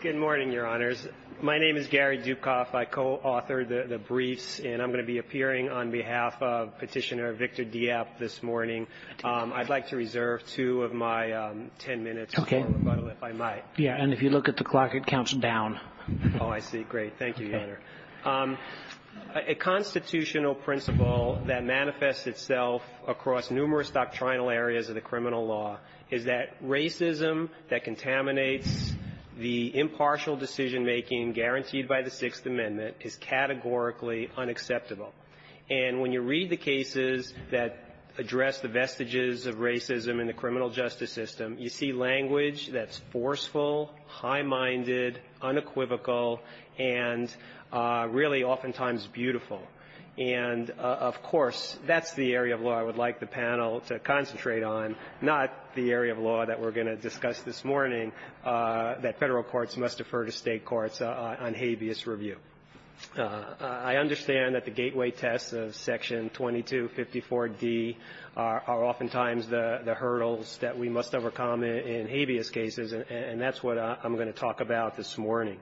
Good morning, Your Honors. My name is Gary Dukoff. I co-authored the briefs, and I'm going to be appearing on behalf of Petitioner Victor Diep this morning. I'd like to reserve two of my ten minutes for rebuttal, if I might. Yeah, and if you look at the clock, it counts down. Oh, I see. Great. Thank you, Your Honor. A constitutional principle that manifests itself across numerous doctrinal areas of the criminal law is that racism that contaminates the impartial decision-making guaranteed by the Sixth Amendment is categorically unacceptable. And when you read the cases that address the vestiges of racism in the criminal justice system, you see language that's forceful, high-minded, unequivocal, and really oftentimes beautiful. And, of course, that's the area of law I would like the panel to concentrate on, not the area of law that we're going to discuss this morning, that Federal courts must defer to State courts on habeas review. I understand that the gateway tests of Section 2254d are oftentimes the hurdles that we must overcome in habeas cases, and that's what I'm going to talk about this morning.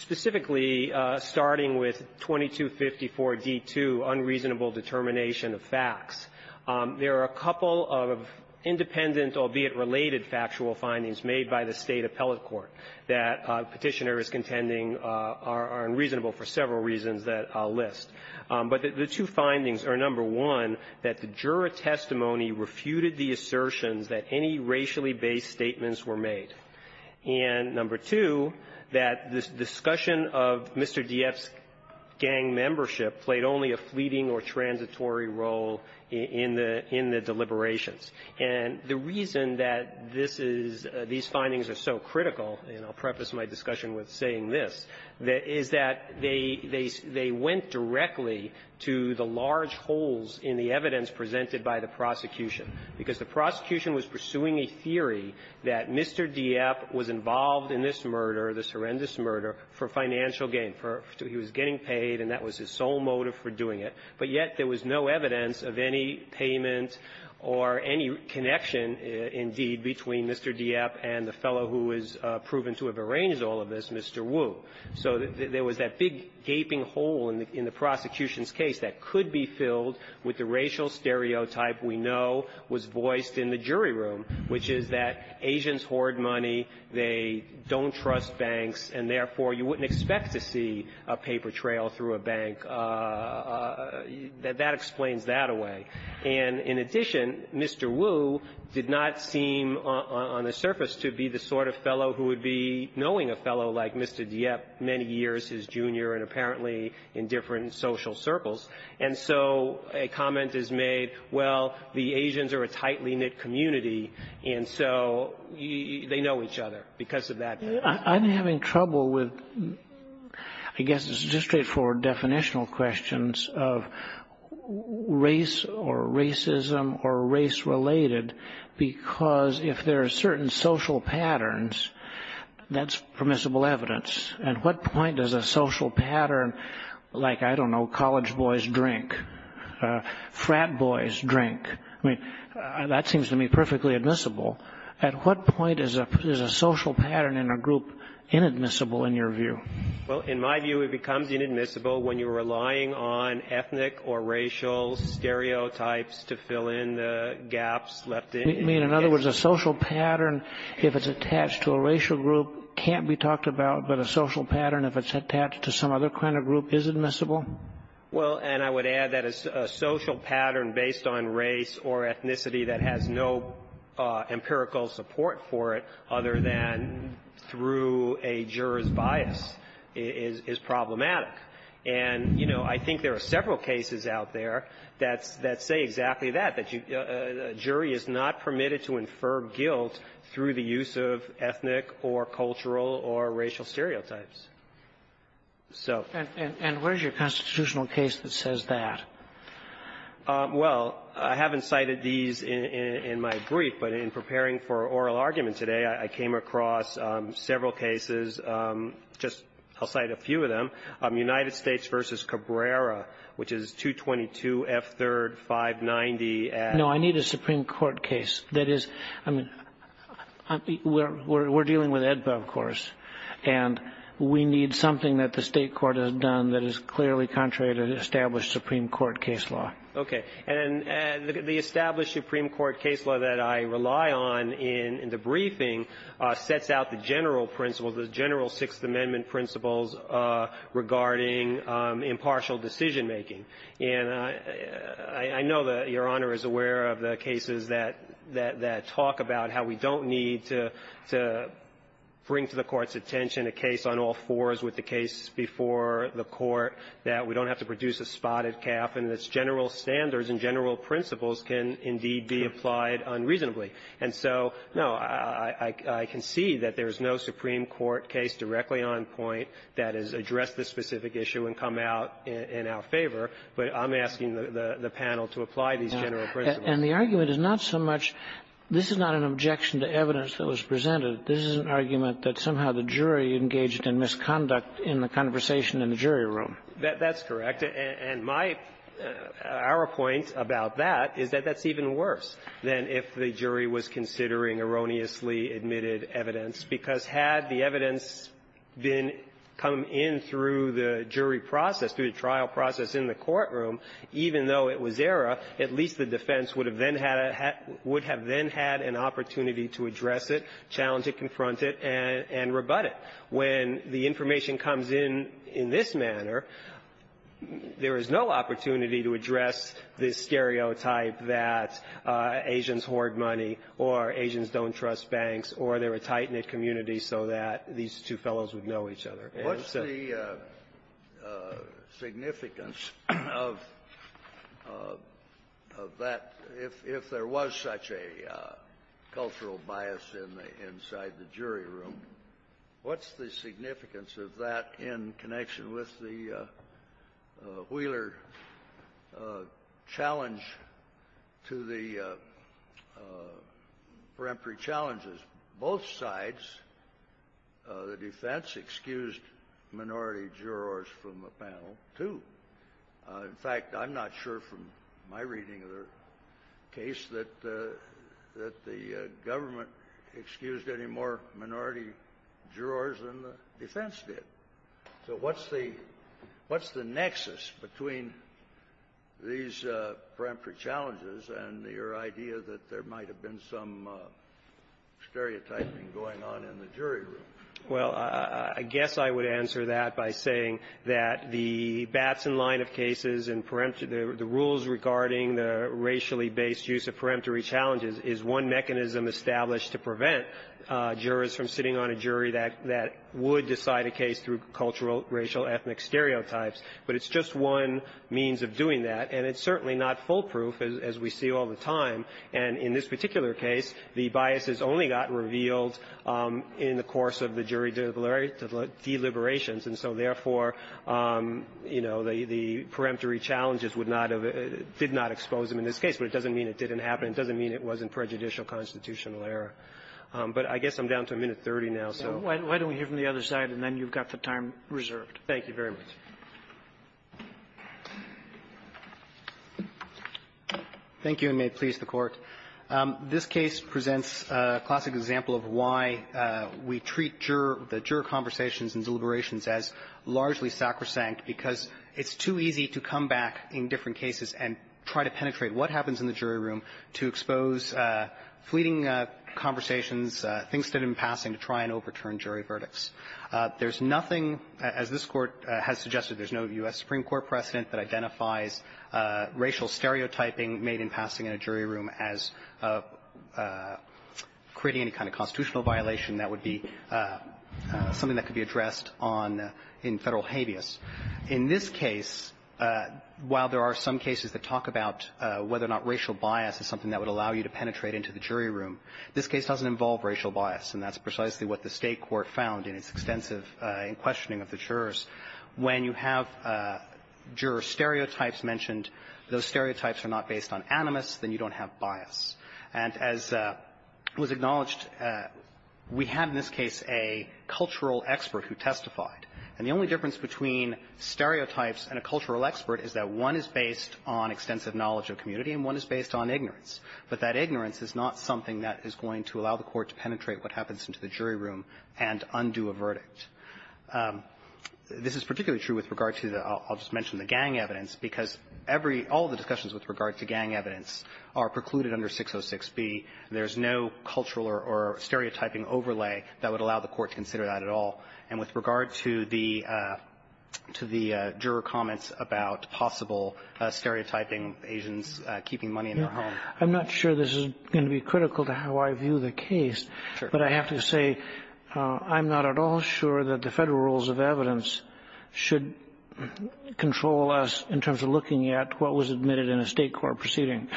Specifically, starting with 2254d-2, unreasonable determination of facts, there are a couple of independent, albeit related, factual findings made by the State appellate court that Petitioner is contending are unreasonable for several reasons that I'll list. But the two findings are, number one, that the juror testimony refuted the assertions that any racially-based statements were made, and, number two, that this discussion of Mr. Dieff's gang membership played only a fleeting or transitory role in the deliberations. And the reason that this is — these findings are so critical, and I'll preface my discussion with saying this, is that they — they went directly to the large holes in the evidence presented by the prosecution, because the prosecution was pursuing a theory that Mr. Dieff was involved in this murder, this horrendous murder, for financial gain. He was getting paid, and that was his sole motive for doing it. But yet there was no evidence of any payment or any connection, indeed, between Mr. Dieff and the fellow who was proven to have arranged all of this, Mr. Wu. So there was that big gaping hole in the prosecution's case that could be filled with the racial stereotype we know was voiced in the jury room, which is that Asians hoard money, they don't trust banks, and therefore you wouldn't expect to see a paper trail through a bank. That explains that away. And in addition, Mr. Wu did not seem on the surface to be the sort of fellow who would be knowing a fellow like Mr. Dieff many years his junior and apparently in different social circles. And so a comment is made, well, the Asians are a tightly knit community, and so they know each other, because of that. I'm having trouble with, I guess it's just straightforward definitional questions of race or racism or race-related, because if there are certain social patterns, that's permissible evidence. At what point does a social pattern like, I don't know, college boys drink, frat boys drink, I mean, that seems to me perfectly admissible. At what point is a social pattern in a group inadmissible, in your view? Well, in my view, it becomes inadmissible when you're relying on ethnic or racial stereotypes to fill in the gaps left in. You mean, in other words, a social pattern, if it's attached to a racial group, can't be talked about, but a social pattern, if it's attached to some other kind of group, is admissible? Well, and I would add that a social pattern based on race or ethnicity that has no empirical support for it other than through a juror's bias is problematic. And, you know, I think there are several cases out there that say exactly that, that racial or racial stereotypes. So. And where's your constitutional case that says that? Well, I haven't cited these in my brief, but in preparing for oral argument today, I came across several cases, just I'll cite a few of them. United States v. Cabrera, which is 222 F. 3rd, 590. No, I need a Supreme Court case. That is, I mean, we're dealing with AEDPA, of course. And we need something that the State court has done that is clearly contrary to the established Supreme Court case law. Okay. And the established Supreme Court case law that I rely on in the briefing sets out the general principles, the general Sixth Amendment principles regarding impartial decision-making. And I know that Your Honor is aware of the cases that talk about how we don't need to bring to the Court's attention a case on all fours with the case before the Court that we don't have to produce a spotted calf and its general standards and general principles can indeed be applied unreasonably. And so, no, I concede that there But I'm asking the panel to apply these general principles. And the argument is not so much this is not an objection to evidence that was presented. This is an argument that somehow the jury engaged in misconduct in the conversation in the jury room. That's correct. And my, our point about that is that that's even worse than if the jury was considering erroneously admitted evidence, because had the evidence been come in through the jury process, through the trial process in the courtroom, even though it was error, at least the defense would have then had an opportunity to address it, challenge it, confront it, and rebut it. When the information comes in in this manner, there is no opportunity to address the stereotype that Asians hoard money or Asians don't What's the significance of that if there was such a cultural bias in the inside the jury room? What's the significance of that in connection with the Wheeler challenge to the peremptory challenges? sides, the defense excused minority jurors from the panel, too. In fact, I'm not sure from my reading of the case that the government excused any more minority jurors than the defense did. So what's the nexus between these peremptory challenges and your idea that there Well, I guess I would answer that by saying that the bats in line of cases and the rules regarding the racially-based use of peremptory challenges is one mechanism established to prevent jurors from sitting on a jury that would decide a case through in the course of the jury deliberations. And so, therefore, you know, the peremptory challenges would not have been exposed in this case. But it doesn't mean it didn't happen. It doesn't mean it wasn't prejudicial constitutional error. But I guess I'm down to a minute 30 now, so. Why don't we hear from the other side, and then you've got the time reserved. Thank you very much. Thank you, and may it please the Court. This case presents a classic example of why we treat juror – the juror conversations and deliberations as largely sacrosanct, because it's too easy to come back in different cases and try to penetrate what happens in the jury room to expose fleeting conversations, things that are in passing, to try and overturn jury verdicts. There's nothing, as this Court has suggested, there's no U.S. Supreme Court precedent that identifies racial stereotyping made in passing in a jury room as creating any kind of constitutional violation that would be something that could be addressed on – in Federal habeas. In this case, while there are some cases that talk about whether or not racial bias is something that would allow you to penetrate into the jury room, this case doesn't involve racial bias, and that's precisely what the State Court said. If there are stereotypes mentioned, those stereotypes are not based on animus, then you don't have bias. And as was acknowledged, we have in this case a cultural expert who testified, and the only difference between stereotypes and a cultural expert is that one is based on extensive knowledge of community and one is based on ignorance, but that ignorance is not something that is going to allow the Court to penetrate what happens into the jury room and undo a verdict. This is particularly true with regard to the – I'll just mention the gang evidence, because every – all of the discussions with regard to gang evidence are precluded under 606B. There's no cultural or stereotyping overlay that would allow the Court to consider that at all. And with regard to the – to the juror comments about possible stereotyping, Asians keeping money in their home. I'm not sure this is going to be critical to how I view the case. Sure. But I have to say I'm not at all sure that the Federal rules of evidence should control us in terms of looking at what was admitted in a State court proceeding.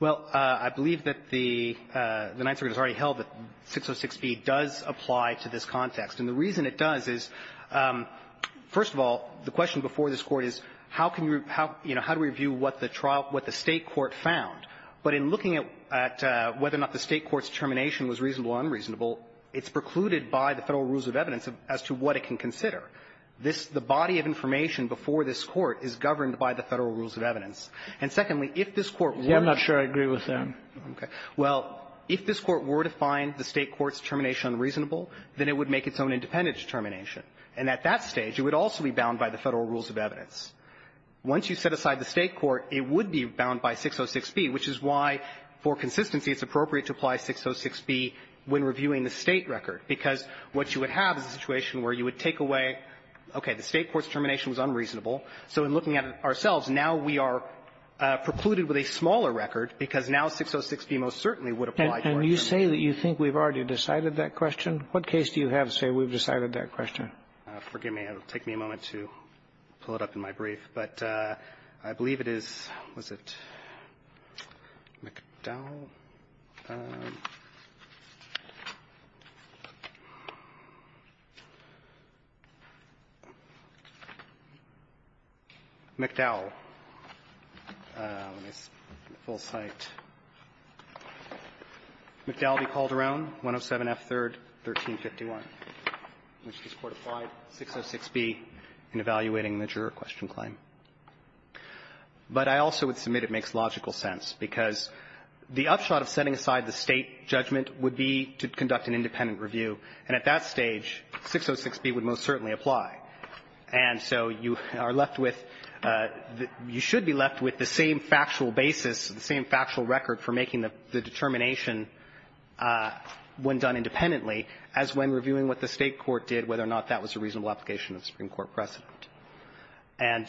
Well, I believe that the – the Ninth Circuit has already held that 606B does apply to this context. And the reason it does is, first of all, the question before this Court is how can you – how do we view what the trial – what the State court found? But in looking at – at whether or not the State court's termination was reasonable or unreasonable, it's precluded by the Federal rules of evidence as to what it can consider. This – the body of information before this Court is governed by the Federal rules of evidence. And secondly, if this Court were to – Yeah, I'm not sure I agree with that. Okay. Well, if this Court were to find the State court's termination unreasonable, then it would make its own independent determination. And at that stage, it would also be bound by the Federal rules of evidence. Once you set aside the State court, it would be bound by 606B, which is why, for consistency, it's appropriate to apply 606B when reviewing the State record, because what you would have is a situation where you would take away, okay, the State court's termination was unreasonable. So in looking at it ourselves, now we are precluded with a smaller record because now 606B most certainly would apply for a termination. And you say that you think we've already decided that question? What case do you have to say we've decided that question? Forgive me. It'll take me a moment to pull it up in my brief. But I believe it is – was it McDowell? McDowell. Full site. McDowell v. Calderon, 107F3rd, 1351. This Court applied 606B in evaluating the juror question claim. But I also would submit it makes logical sense, because the upshot of setting aside the State judgment would be to conduct an independent review. And at that stage, 606B would most certainly apply. And so you are left with – you should be left with the same factual basis, the same factual record for making the judgment, reviewing what the State court did, whether or not that was a reasonable application of Supreme Court precedent. And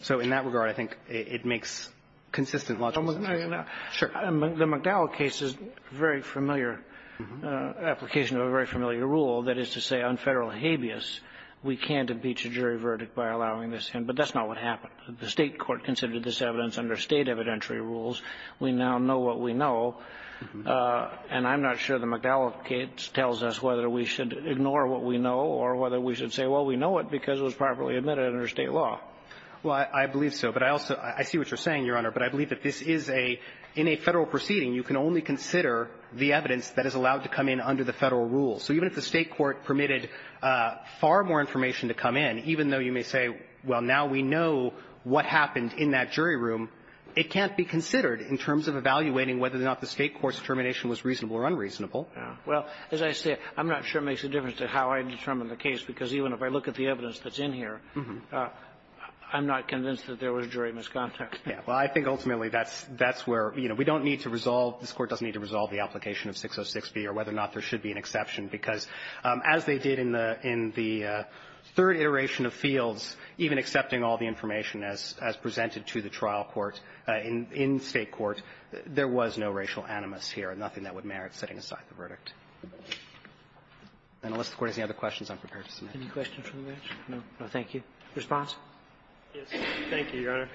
so in that regard, I think it makes consistent logical sense. The McDowell case is a very familiar application of a very familiar rule, that is to say on Federal habeas, we can't impeach a jury verdict by allowing this in. But that's not what happened. The State court considered this evidence under State evidentiary rules. We now know what we know. And I'm not sure the McDowell case tells us whether we should ignore what we know or whether we should say, well, we know it because it was properly admitted under State law. Well, I believe so. But I also – I see what you're saying, Your Honor. But I believe that this is a – in a Federal proceeding, you can only consider the evidence that is allowed to come in under the Federal rules. So even if the State court permitted far more information to come in, even though you may say, well, now we know what happened in that jury room, it can't be considered in terms of evaluating whether or not the State court's determination was reasonable or unreasonable. Well, as I say, I'm not sure it makes a difference to how I determine the case, because even if I look at the evidence that's in here, I'm not convinced that there was jury misconduct. Well, I think ultimately that's – that's where, you know, we don't need to resolve – this Court doesn't need to resolve the application of 606B or whether or not there should be an exception. Because as they did in the – in the third iteration of Fields, even accepting all the information as – as presented to the trial court in – in State court, there was no racial animus here, nothing that would merit setting aside the verdict. And unless the Court has any other questions, I'm prepared to submit. Any questions from the bench? No. No, thank you. Response? Yes. Thank you, Your Honor.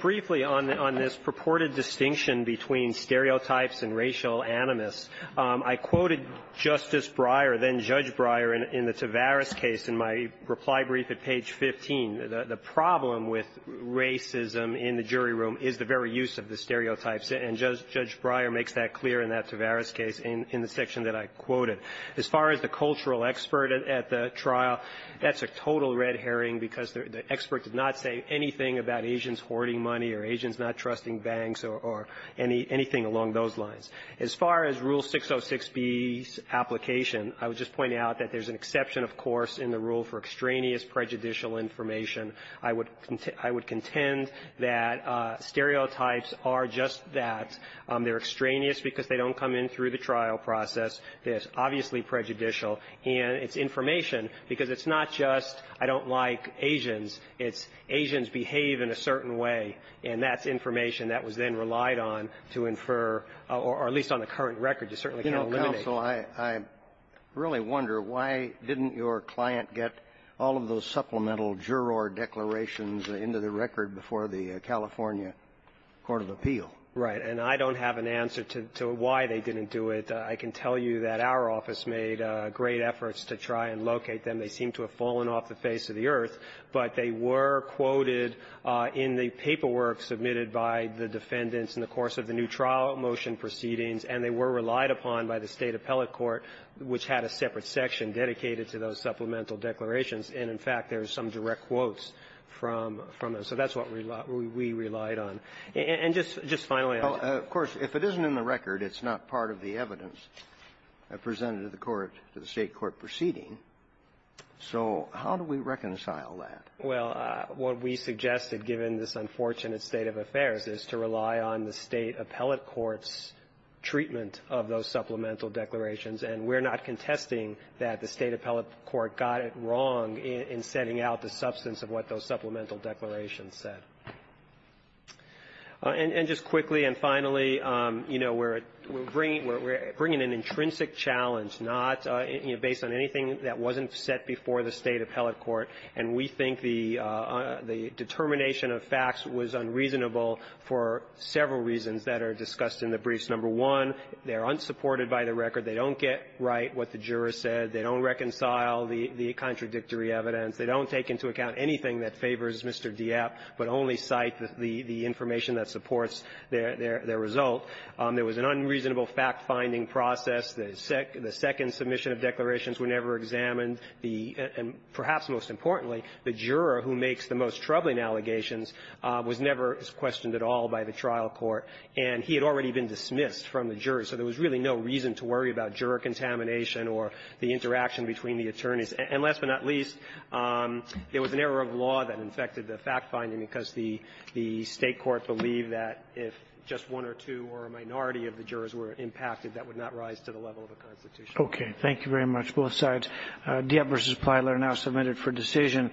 Briefly, on – on this purported distinction between stereotypes and racial animus, I quoted Justice Breyer, then Judge Breyer, in the Tavares case in my reply brief at page 15. The problem with racism in the jury room is the very use of the stereotypes. And Judge Breyer makes that clear in that Tavares case in the section that I quoted. As far as the cultural expert at the trial, that's a total red herring because the expert did not say anything about Asians hoarding money or Asians not trusting banks or anything along those lines. As far as Rule 606B's application, I would just point out that there's an exception, of course, in the rule for extraneous prejudicial information. I would – I would contend that stereotypes are just that. They're extraneous because they don't come in through the trial process. They're obviously prejudicial. And it's information because it's not just I don't like Asians. It's Asians behave in a certain way, and that's information that was then relied on to infer, or at least on the current record, you certainly can't eliminate. You know, counsel, I really wonder why didn't your client get all of those supplemental juror declarations into the record before the California court of appeal? Right. And I don't have an answer to why they didn't do it. I can tell you that our office made great efforts to try and locate them. They seem to have fallen off the face of the earth, but they were quoted in the paperwork submitted by the defendants in the course of the new trial motion proceedings, and they were relied upon by the State appellate court, which had a separate section dedicated to those supplemental declarations. And, in fact, there's some direct quotes from them. So that's what we relied on. And just finally, I'll just – Well, of course, if it isn't in the record, it's not part of the evidence presented to the court, to the State court proceeding. So how do we reconcile that? Well, what we suggested, given this unfortunate state of affairs, is to rely on the State appellate court's treatment of those supplemental declarations. And we're not contesting that the State appellate court got it wrong in setting out the substance of what those supplemental declarations said. And just quickly and finally, you know, we're bringing an intrinsic challenge, not – you know, based on anything that wasn't set before the State appellate court, and we think the – the determination of facts was unreasonable for several reasons that are discussed in the briefs. Number one, they're unsupported by the record. They don't get right what the jurors said. They don't reconcile the – the contradictory evidence. They don't take into account anything that favors Mr. Dieppe, but only cite the – the information that supports their – their result. There was an unreasonable fact-finding process. The second submission of declarations were never examined. The – and perhaps most importantly, the juror who makes the most troubling allegations was never questioned at all by the trial court. And he had already been dismissed from the jury, so there was really no reason to worry about juror contamination or the interaction between the attorneys. And last but not least, there was an error of law that infected the fact-finding because the – the State court believed that if just one or two or a minority of the jurors were impacted, that would not rise to the level of the Constitution. Okay. Thank you very much, both sides. Dieppe v. Plyler now submitted for decision.